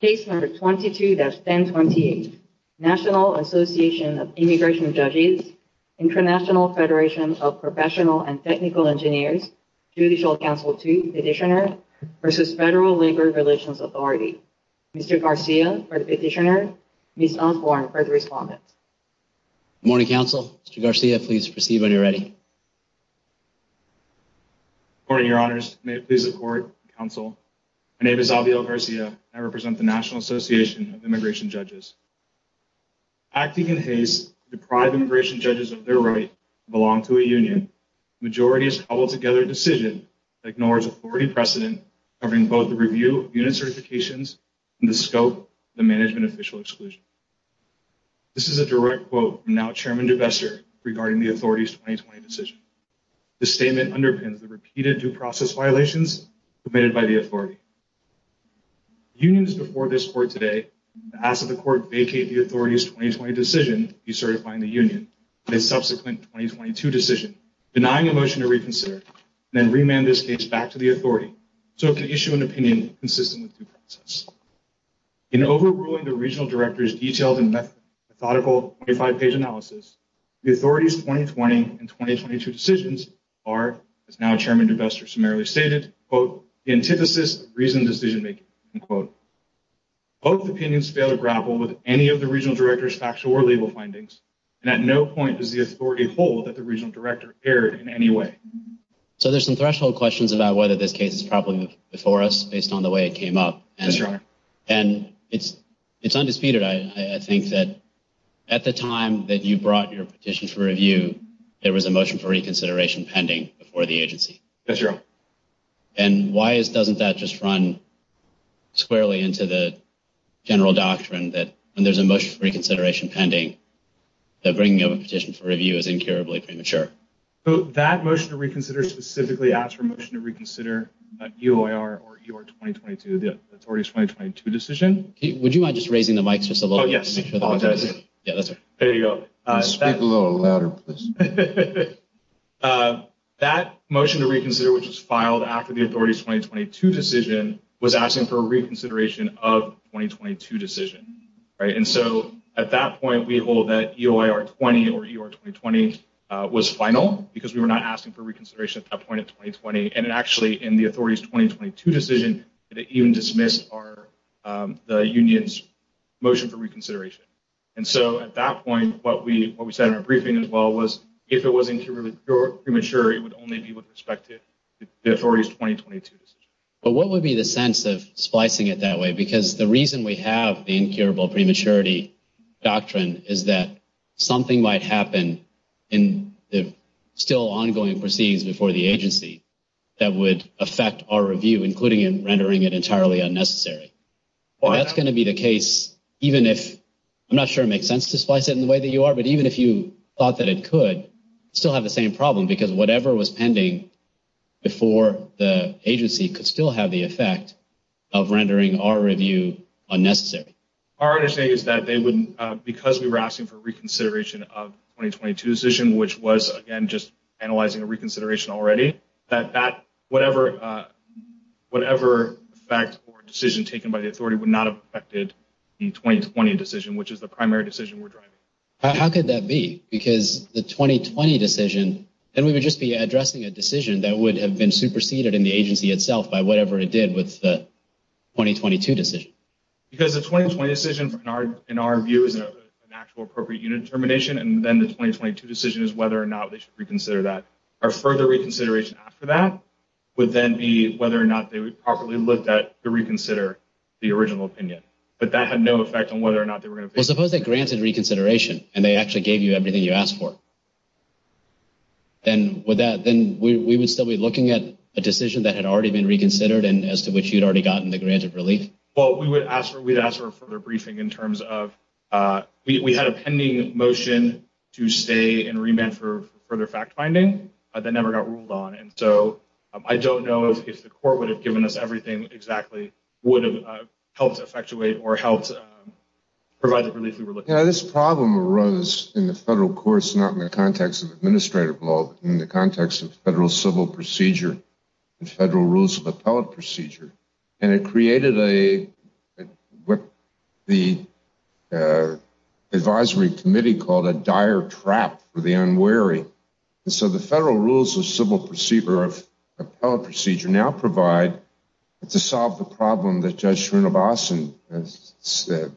Case number 22-1028 National Association of Immigration Judges, International Federation of Professional and Technical Engineers, Judicial Council 2 Petitioner v. Federal Labor Relations Authority. Mr. Garcia for the Petitioner, Ms. Osborne for the Respondent. Good morning, Council. Mr. Garcia, please proceed when you're ready. Good morning, Your Honors. May it please the Court, Council. My National Association of Immigration Judges. Acting in haste to deprive immigration judges of their right to belong to a union, the majority has cobbled together a decision that ignores authority precedent covering both the review of unit certifications and the scope of the management official exclusion. This is a direct quote from now-Chairman DeBesser regarding the Authority's 2020 decision. The statement underpins the repeated due process violations committed by the Authority. Unions before this Court today ask that the Court vacate the Authority's 2020 decision decertifying the union and its subsequent 2022 decision, denying a motion to reconsider, and then remand this case back to the Authority so it can issue an opinion consistent with due process. In overruling the Regional Director's detailed and methodical 25-page analysis, the Authority's 2020 and 2022 decisions are, as now-Chairman DeBesser summarily stated, quote, the antithesis of reasoned decision-making, end quote. Both opinions fail to grapple with any of the Regional Director's factual or legal findings, and at no point does the Authority hold that the Regional Director erred in any way. So there's some threshold questions about whether this case is properly before us based on the way it came up. That's right. And it's undisputed, I think, that at the time that you brought your petition for review, there was a motion for reconsideration. And why doesn't that just run squarely into the general doctrine that when there's a motion for reconsideration pending, that bringing up a petition for review is incurably premature? So that motion to reconsider specifically asks for a motion to reconsider UIR or UR 2022, the Authority's 2022 decision. Would you mind just raising the mics just a little bit? Oh, yes. Apologize. Yeah, that's all right. There you go. Speak a little louder, please. Okay. That motion to reconsider, which was filed after the Authority's 2022 decision, was asking for a reconsideration of the 2022 decision, right? And so at that point, we hold that UIR 20 or UR 2020 was final because we were not asking for reconsideration at that point in 2020. And it actually, in the Authority's 2022 decision, it even dismissed the union's motion for reconsideration. And so at that point, what we said in our briefing as well was, if it was incurably premature, it would only be with respect to the Authority's 2022 decision. But what would be the sense of splicing it that way? Because the reason we have the incurable prematurity doctrine is that something might happen in the still ongoing proceedings before the agency that would affect our review, including in rendering it entirely unnecessary. That's going to be the case, even if, I'm not sure it makes sense to splice it in the way that you are, but even if you thought that it could still have the same problem, because whatever was pending before the agency could still have the effect of rendering our review unnecessary. Our understanding is that they wouldn't, because we were asking for reconsideration of the 2022 decision, which was, again, just analyzing a reconsideration already, that whatever effect or decision taken by the Authority would not have affected the 2020 decision, which is the primary decision we're driving. How could that be? Because the 2020 decision, then we would just be addressing a decision that would have been superseded in the agency itself by whatever it did with the 2022 decision. Because the 2020 decision, in our view, is an actual appropriate unit termination, and then the 2022 decision is whether or not they reconsider that. Our further reconsideration after that would then be whether or not they would properly look at the reconsider the original opinion. But that had no effect on whether or not they were going to... Well, suppose they granted reconsideration and they actually gave you everything you asked for. Then we would still be looking at a decision that had already been reconsidered and as to which you'd already gotten the grant of relief? Well, we would ask for a briefing in terms of... We had a pending motion to stay and remand for further fact-finding that never got ruled on. And so I don't know if the court would have given us everything exactly would have helped effectuate or helped provide the relief we were looking for. This problem arose in the federal courts, not in the context of administrative law, but in the context of federal civil procedure and federal rules of appellate procedure. And it created what the advisory committee called a dire trap for the unwary. And so the federal rules of civil procedure of appellate procedure now provide to solve the problem that Judge Srinivasan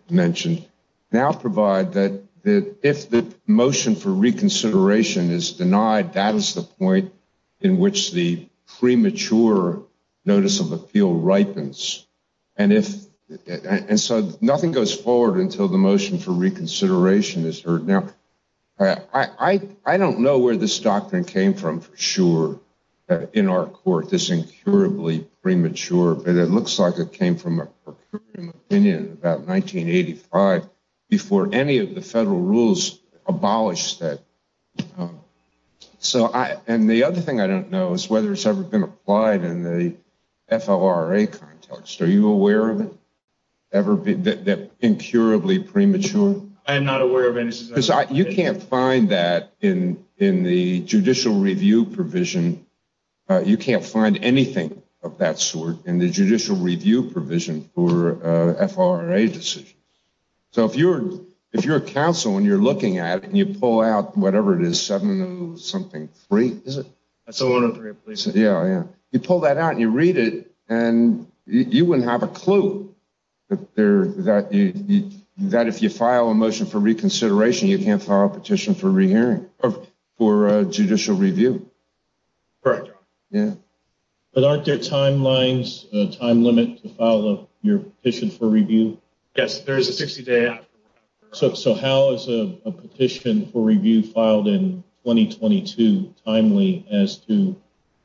mentioned, now provide that if the motion for reconsideration is denied, that is the point in which the premature notice of appeal ripens. And so nothing goes forward until the motion for reconsideration is heard. Now, I don't know where this doctrine came from for sure in our court, this incurably premature, but it looks like it came from an opinion about 1985 before any of the federal rules abolished that. And the other thing I don't know is whether it's ever been applied in the FLRA context. Are you aware of it, that incurably premature? I am not aware of any. Because you can't find that in the judicial review provision. You can't find anything of that sort in the judicial review provision for FLRA decisions. So if you're a counsel and you're looking at it and you pull out whatever it is, 703, is it? 703, please. Yeah, yeah. You pull that out and you read it, and you wouldn't have a clue that if you file a motion for reconsideration, you can't file a petition for re-hearing or for judicial review. Correct. Yeah. But aren't there timelines, a time limit to file your petition for review? Yes, there is a 60 day after. So how is a petition for review filed in 2022 timely as to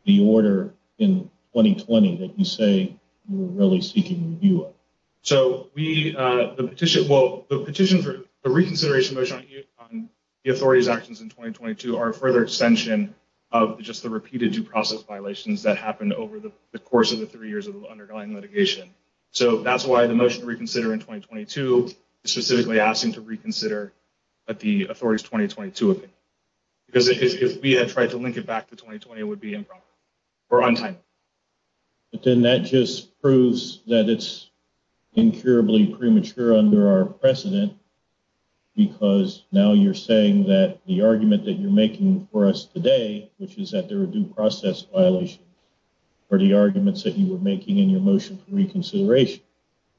the order in 2020 that you say you're really seeking review of? So the petition for a reconsideration motion on the authority's actions in 2022 are a further extension of just the repeated due process violations that happened over the course of the three years of the underlying litigation. So that's why the motion to reconsider in 2022 is specifically asking to reconsider at the authority's 2022 opinion. Because if we had tried to link it back to 2020, it would be improper or untimely. But then that just proves that it's incurably premature under our precedent, because now you're saying that the argument that you're making for us today, which is that there are due process violations, are the arguments that you were making in your motion for reconsideration.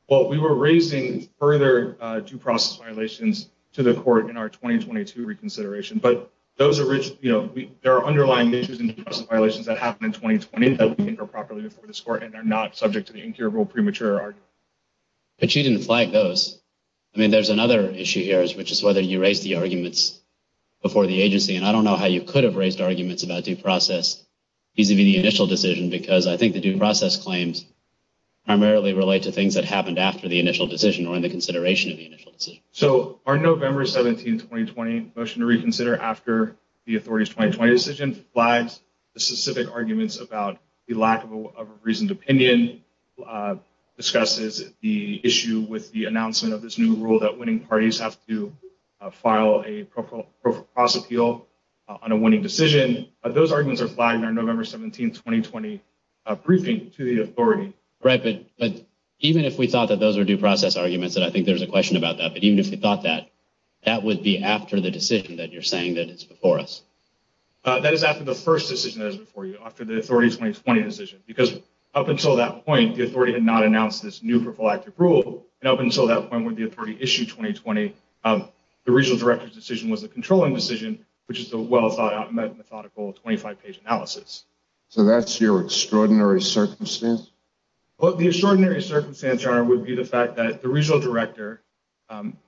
Well, we were raising further due process violations to the court in our 2022 reconsideration, but there are underlying issues and violations that happened in 2020 that we think are properly before this court and are not subject to the incurable premature argument. But you didn't flag those. I mean, there's another issue here, which is whether you raised the arguments before the agency. And I don't know how you could have raised arguments about due process vis-a-vis the initial decision, because I think the due process claims primarily relate to things that happened after the initial decision or in the consideration of the initial decision. So our November 17, 2020 motion to reconsider after the authority's 2020 decision flags the specific arguments about the lack of a reasoned opinion, discusses the issue with the announcement of this new rule that winning parties have to file a process appeal on a winning decision. Those arguments are flagged in our November 17, 2020 briefing to the authority. Right, but even if we thought that those are due process arguments, and I think there's a question about that, but even if we thought that, that would be after the decision that you're saying that it's before us. That is after the first decision that is before you, after the authority's 2020 decision, because up until that point, the authority had not announced this new prophylactic rule. And up until that point, when the authority issued 2020, the regional director's decision was the controlling decision, which is the well-methodical 25-page analysis. So that's your extraordinary circumstance? Well, the extraordinary circumstance, Your Honor, would be the fact that the regional director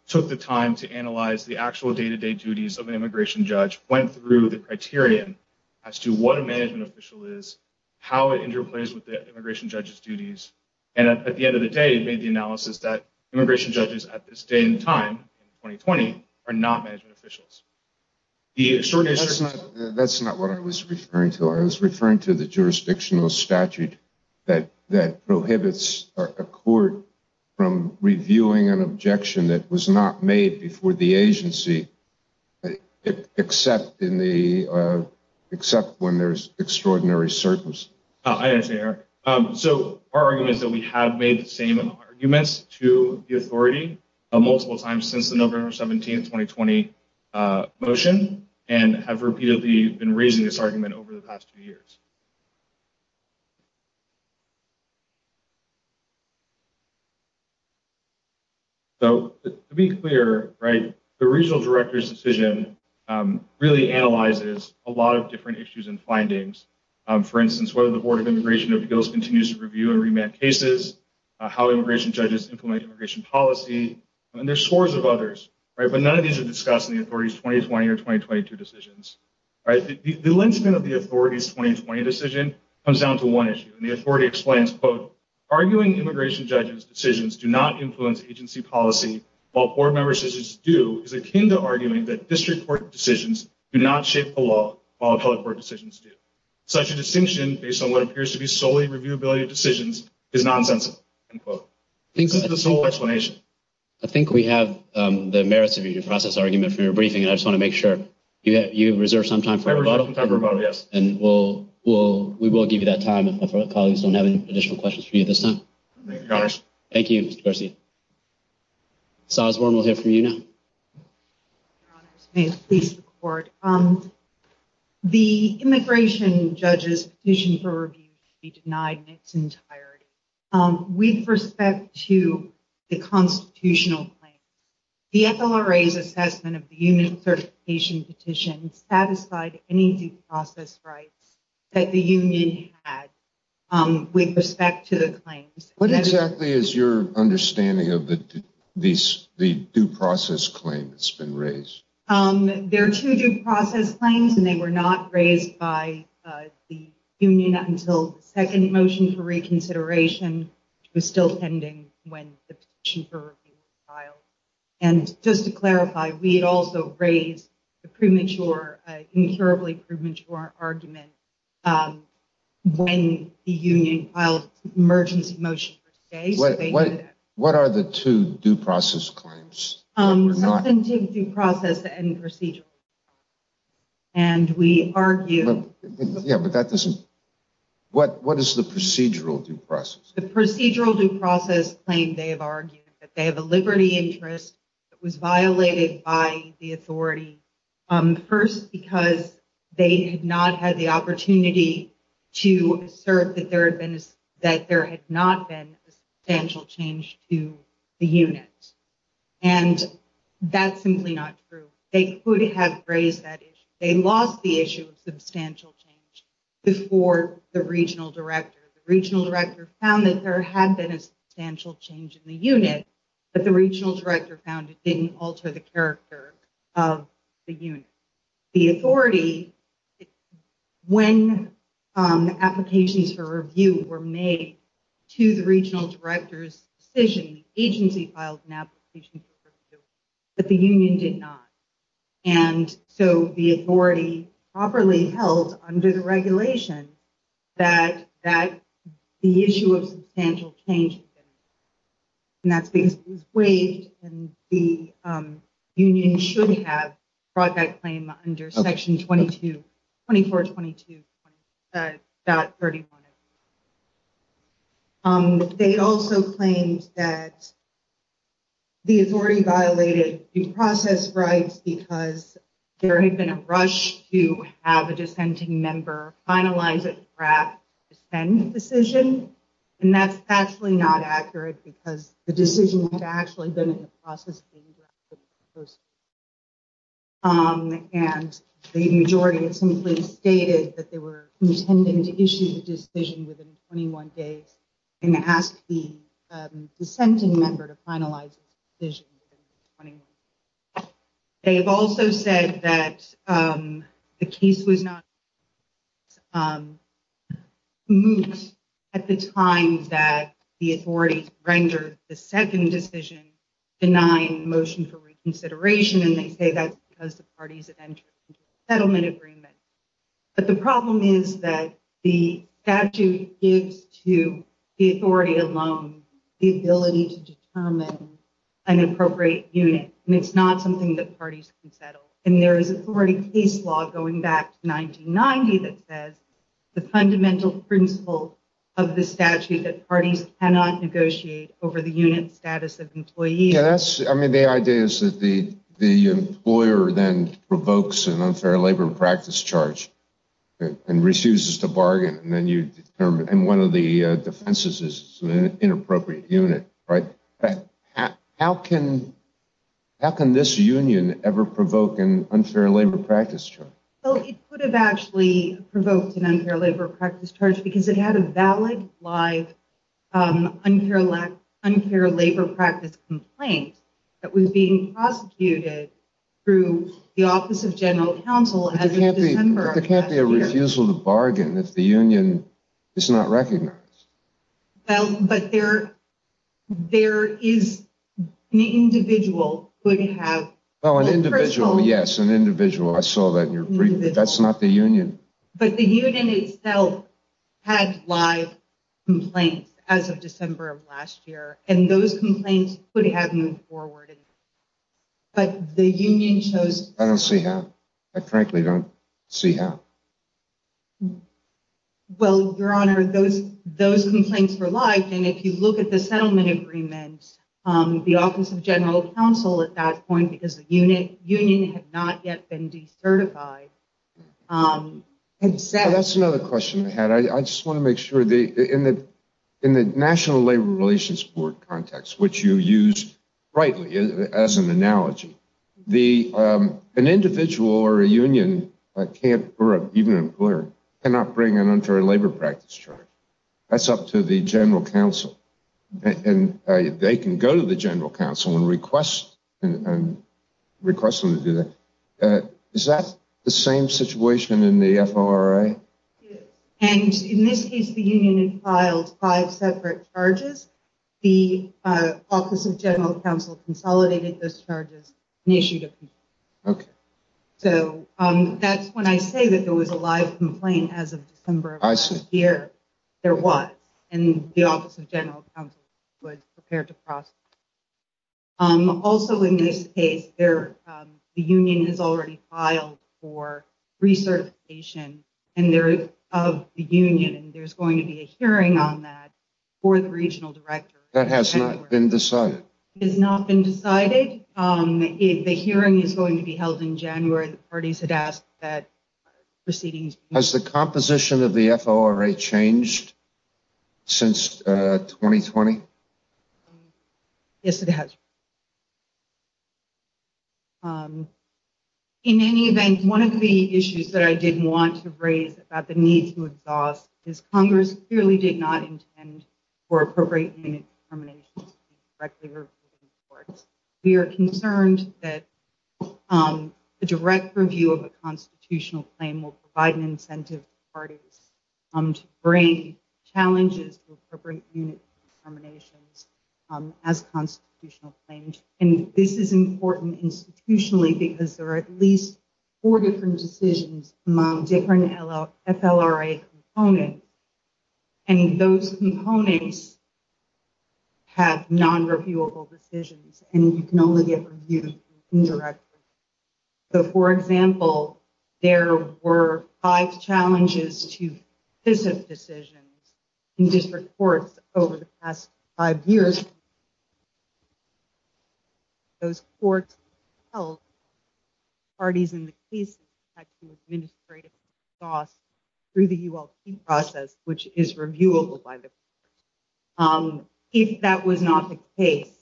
took the time to analyze the actual day-to-day duties of an immigration judge, went through the criterion as to what a management official is, how it interplays with the immigration judge's duties, and at the end of the day, made the analysis that immigration judges at this day and time in 2020 are not management officials. The extraordinary circumstance... That's not what I was referring to. I was referring to the jurisdictional statute that prohibits a court from reviewing an objection that was not made before the agency, except when there's extraordinary circumstances. I understand, Your Honor. So our argument is that we have made the same arguments to the authority multiple times since the November 17, 2020 motion, and have repeatedly been raising this argument over the past few years. So to be clear, right, the regional director's decision really analyzes a lot of different issues and findings. For instance, whether the Board of Immigration of the U.S. continues to review and remand cases, how immigration judges implement immigration policy, and there are scores of others, but none of these are discussed in the authority's 2020 or 2022 decisions. The length of the authority's 2020 decision comes down to one issue, and the authority explains, quote, arguing immigration judges' decisions do not influence agency policy while board members' decisions do is akin to arguing that district court decisions do not shape the law while appellate court decisions do. It's nonsense, end quote. This is the sole explanation. I think we have the merits of your process argument from your briefing, and I just want to make sure you have reserved some time for rebuttal. I reserved some time for rebuttal, yes. And we will give you that time if our colleagues don't have any additional questions for you at this time. Thank you, Your Honors. Thank you, Mr. Garcia. Ms. Osborne, we'll hear from you now. Your Honors, may it please the Court. Um, the immigration judge's petition for review to be denied in its entirety. With respect to the constitutional claim, the FLRA's assessment of the union certification petition satisfied any due process rights that the union had with respect to the claims. What exactly is your understanding of the due process claim that's been raised? There are two due process claims, and they were not raised by the union until the second motion for reconsideration, which was still pending when the petition was filed. And just to clarify, we had also raised the premature, incurably premature argument when the union filed an emergency motion for today. What are the two due process claims? Substantive due process and procedural. And we argue... Yeah, but that doesn't... What is the procedural due process? The procedural due process claim, they have argued that they have a liberty interest that was violated by the authority. First, because they had not had the opportunity to assert that there had not been a substantial change to the unit. And that's simply not true. They could have raised that issue. They lost the issue of substantial change before the regional director. The regional director found that there had been a substantial change in the unit, but the regional director found it didn't alter the character of the unit. The authority, when applications for review were made to the regional director's decision, agency filed an application for review, but the union did not. And so the authority properly held under the regulation that the issue of substantial change had been raised. And that's because it was waived and the union should have brought that claim under section 2422. About 31. They also claimed that the authority violated due process rights because there had been a rush to have a dissenting member finalize a draft decision. And that's actually not accurate because the decision had actually been in the process. And the majority had simply stated that they were intending to issue the decision within 21 days and ask the dissenting member to finalize the decision within 21 days. They have also said that the case was not moved at the time that the authorities rendered the second decision denying the motion for reconsideration, and they say that's because the parties had entered into a settlement agreement. But the problem is that the statute gives to the authority alone the ability to determine an appropriate unit, and it's not something that parties can settle. And there is authority case law going back to 1990 that says the fundamental principle of the statute that parties cannot negotiate over the unit status of employee. Yes, I mean, the idea is that the employer then provokes an unfair labor practice charge and refuses to bargain. And then you determine and one of the defenses is an inappropriate unit, right? How can this union ever provoke an unfair labor practice charge? Well, it could have actually provoked an unfair labor practice charge because it had a valid live unfair labor practice complaint that was being prosecuted through the Office of General Counsel as of December. There can't be a refusal to bargain if the union is not recognized. Well, but there is an individual who would have. Oh, an individual. Yes, an individual. I saw that in your brief. That's not the union. But the union itself had live complaints as of December of last year, and those complaints could have moved forward. But the union chose. I don't see how. I frankly don't see how. Well, Your Honor, those complaints were live. And if you look at the settlement agreement, the Office of General Counsel at that point, because the union had not yet been decertified. That's another question I had. I just want to make sure that in the National Labor Relations Board context, which you use rightly as an analogy, an individual or a union can't or even an employer cannot bring an unfair labor practice charge. That's up to the General Counsel. And they can go to the General Counsel and request them to do that. Is that the same situation in the FORA? And in this case, the union had filed five separate charges. The Office of General Counsel consolidated those charges and issued a complaint. OK. So that's when I say that there was a live complaint as of December of last year, there was. And the Office of General Counsel was prepared to cross. Also, in this case, the union has already filed for recertification of the union. And there's going to be a hearing on that for the regional director. That has not been decided. It has not been decided. The hearing is going to be held in January. The parties had asked that proceedings. Has the composition of the FORA changed? Since 2020? Yes, it has. In any event, one of the issues that I did want to raise about the need to exhaust is Congress clearly did not intend for appropriate unit terminations. We are concerned that a direct review of a constitutional claim will provide an incentive for parties to bring challenges to appropriate unit terminations as constitutional claims. And this is important institutionally because there are at least four different decisions among different FLRA components. And those components have non-reviewable decisions and you can only get reviewed indirectly. So, for example, there were five challenges to decisions in district courts over the past five years. Those courts held parties in the case had to administratively exhaust through the ULT process, which is reviewable by the court. Um, if that was not the case,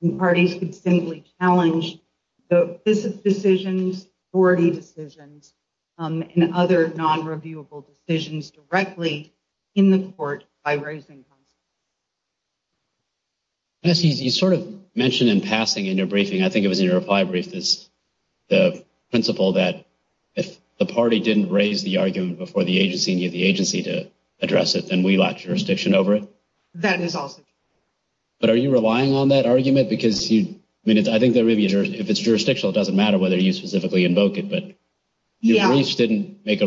the parties could simply challenge the business decisions, 40 decisions, um, and other non-reviewable decisions directly in the court by raising. You sort of mentioned in passing in your briefing, I think it was in your reply brief is the principle that if the party didn't raise the argument before the agency, the agency to address it, then we lack jurisdiction over it. That is also true. But are you relying on that argument? Because I think if it's jurisdictional, it doesn't matter whether you specifically invoke it, but your briefs didn't make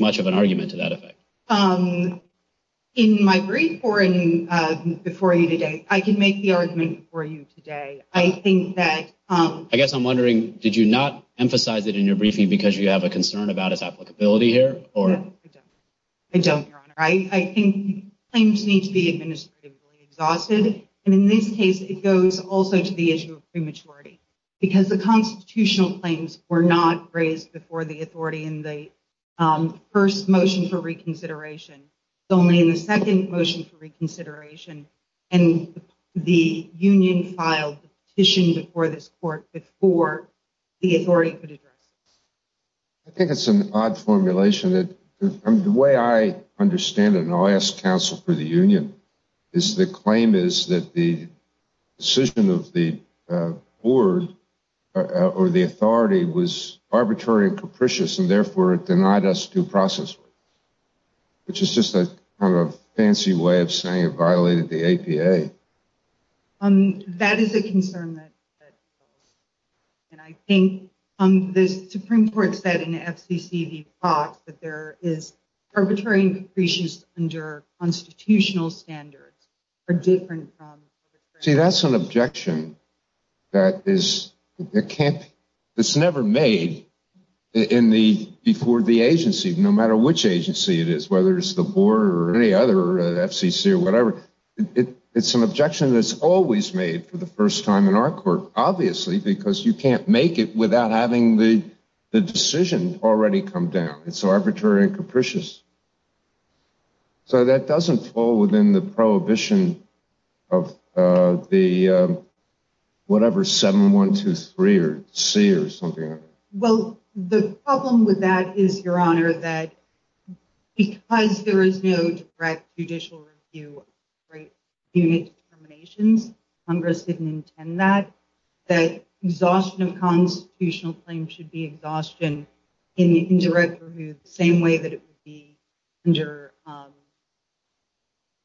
much of an argument to that effect. In my brief or before you today, I can make the argument for you today. I think that, um. I guess I'm wondering, did you not emphasize it in your briefing because you have a concern about its applicability here? No, I don't. I don't, Your Honor. I think claims need to be administratively exhausted. And in this case, it goes also to the issue of prematurity because the constitutional claims were not raised before the authority in the, um, first motion for reconsideration. It's only in the second motion for reconsideration and the union filed the petition before this court before the authority could address it. I think it's an odd formulation that the way I understand it, and I'll ask counsel for the union, is the claim is that the decision of the board or the authority was arbitrary and capricious and therefore it denied us due process, which is just a kind of fancy way of saying it violated the APA. That is a concern. And I think, um, the Supreme Court said in FCC v. Fox that there is arbitrary and capricious under constitutional standards are different from. See, that's an objection that is, it can't, it's never made in the, before the agency, no matter which agency it is, whether it's the board or any other FCC or whatever, it's an objection that's always made for the first time in our court, obviously, because you can't make it without having the, the decision already come down. It's arbitrary and capricious. So that doesn't fall within the prohibition of, uh, the, uh, whatever, 7, 1, 2, 3 or C or something like that. Well, the problem with that is your honor that because there is no direct judicial review right. You need determinations. Congress didn't intend that, that exhaustion of constitutional claims should be exhaustion in the indirect review, the same way that it would be under, um,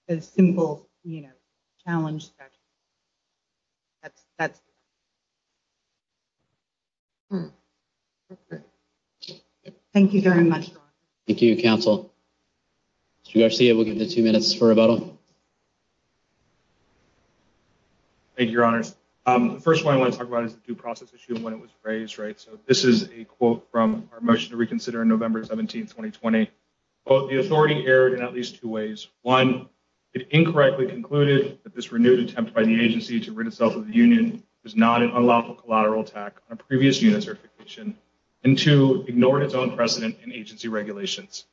a simple, you know, challenge that's, that's, thank you very much. Thank you counsel. Mr. Garcia, we'll give the two minutes for rebuttal. Thank you, your honors. Um, the first one I want to talk about is the due process issue when it was raised, right? So this is a quote from our motion to reconsider in November 17th, 2020. Well, the authority erred in at least two ways. One, it incorrectly concluded that this renewed attempt by the agency to rid itself of the union was not an unlawful collateral attack on a previous unit certification and to ignore its own precedent and agency regulations.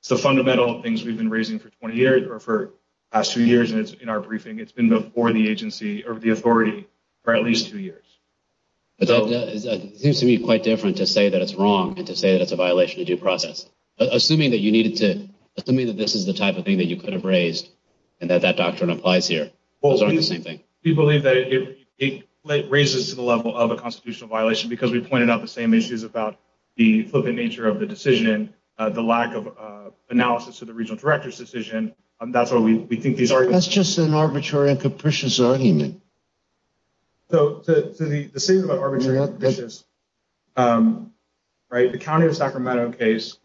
It's the fundamental things we've been raising for 20 years or for the past two years. And it's in our briefing, it's been before the agency or the authority for at least two years. But it seems to me quite different to say that it's wrong and to say that it's a violation of due process. Assuming that you needed to, assuming that this is the type of thing that you could have raised and that that doctrine applies here, those aren't the same thing. We believe that it raises to the level of a constitutional violation because we pointed out the same issues about the flippant nature of the decision, the lack of analysis to the regional director's decision. That's what we think these are. That's just an arbitrary and capricious argument. So to the decision about arbitrary and capricious, right? The county of Sacramento case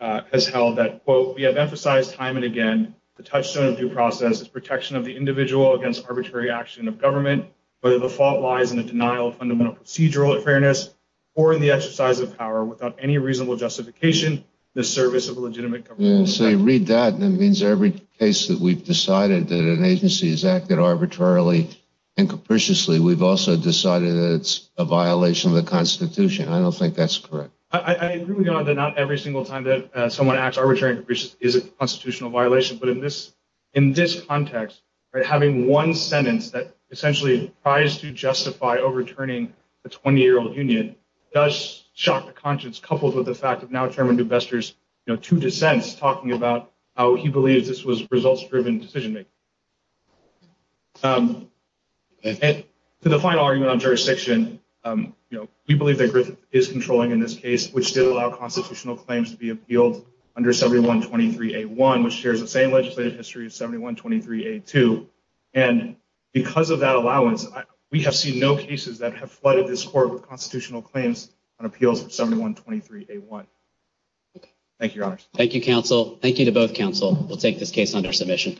has held that, quote, we have emphasized time and again, the touchstone of due process is protection of the individual against arbitrary action of government. But the fault lies in the denial of fundamental procedural fairness or in the exercise of power without any reasonable justification, the service of legitimate government. So you read that and it means every case that we've decided that an agency has acted arbitrarily and capriciously, we've also decided that it's a violation of the Constitution. I don't think that's correct. I agree with you on that. Not every single time that someone acts arbitrary and capricious is a constitutional violation. But in this context, having one sentence that essentially tries to justify overturning the 20-year-old union does shock the conscience, coupled with the fact of now Chairman Dubester's two dissents talking about how he believes this was results-driven decision-making. And to the final argument on jurisdiction, we believe that Griffith is controlling in this case, which did allow constitutional claims to be appealed under 7123A1, which shares the same legislative history of 7123A2. And because of that allowance, we have seen no cases that have flooded this court with constitutional claims on appeals of 7123A1. Thank you, Your Honors. Thank you, counsel. Thank you to both counsel. We'll take this case under submission.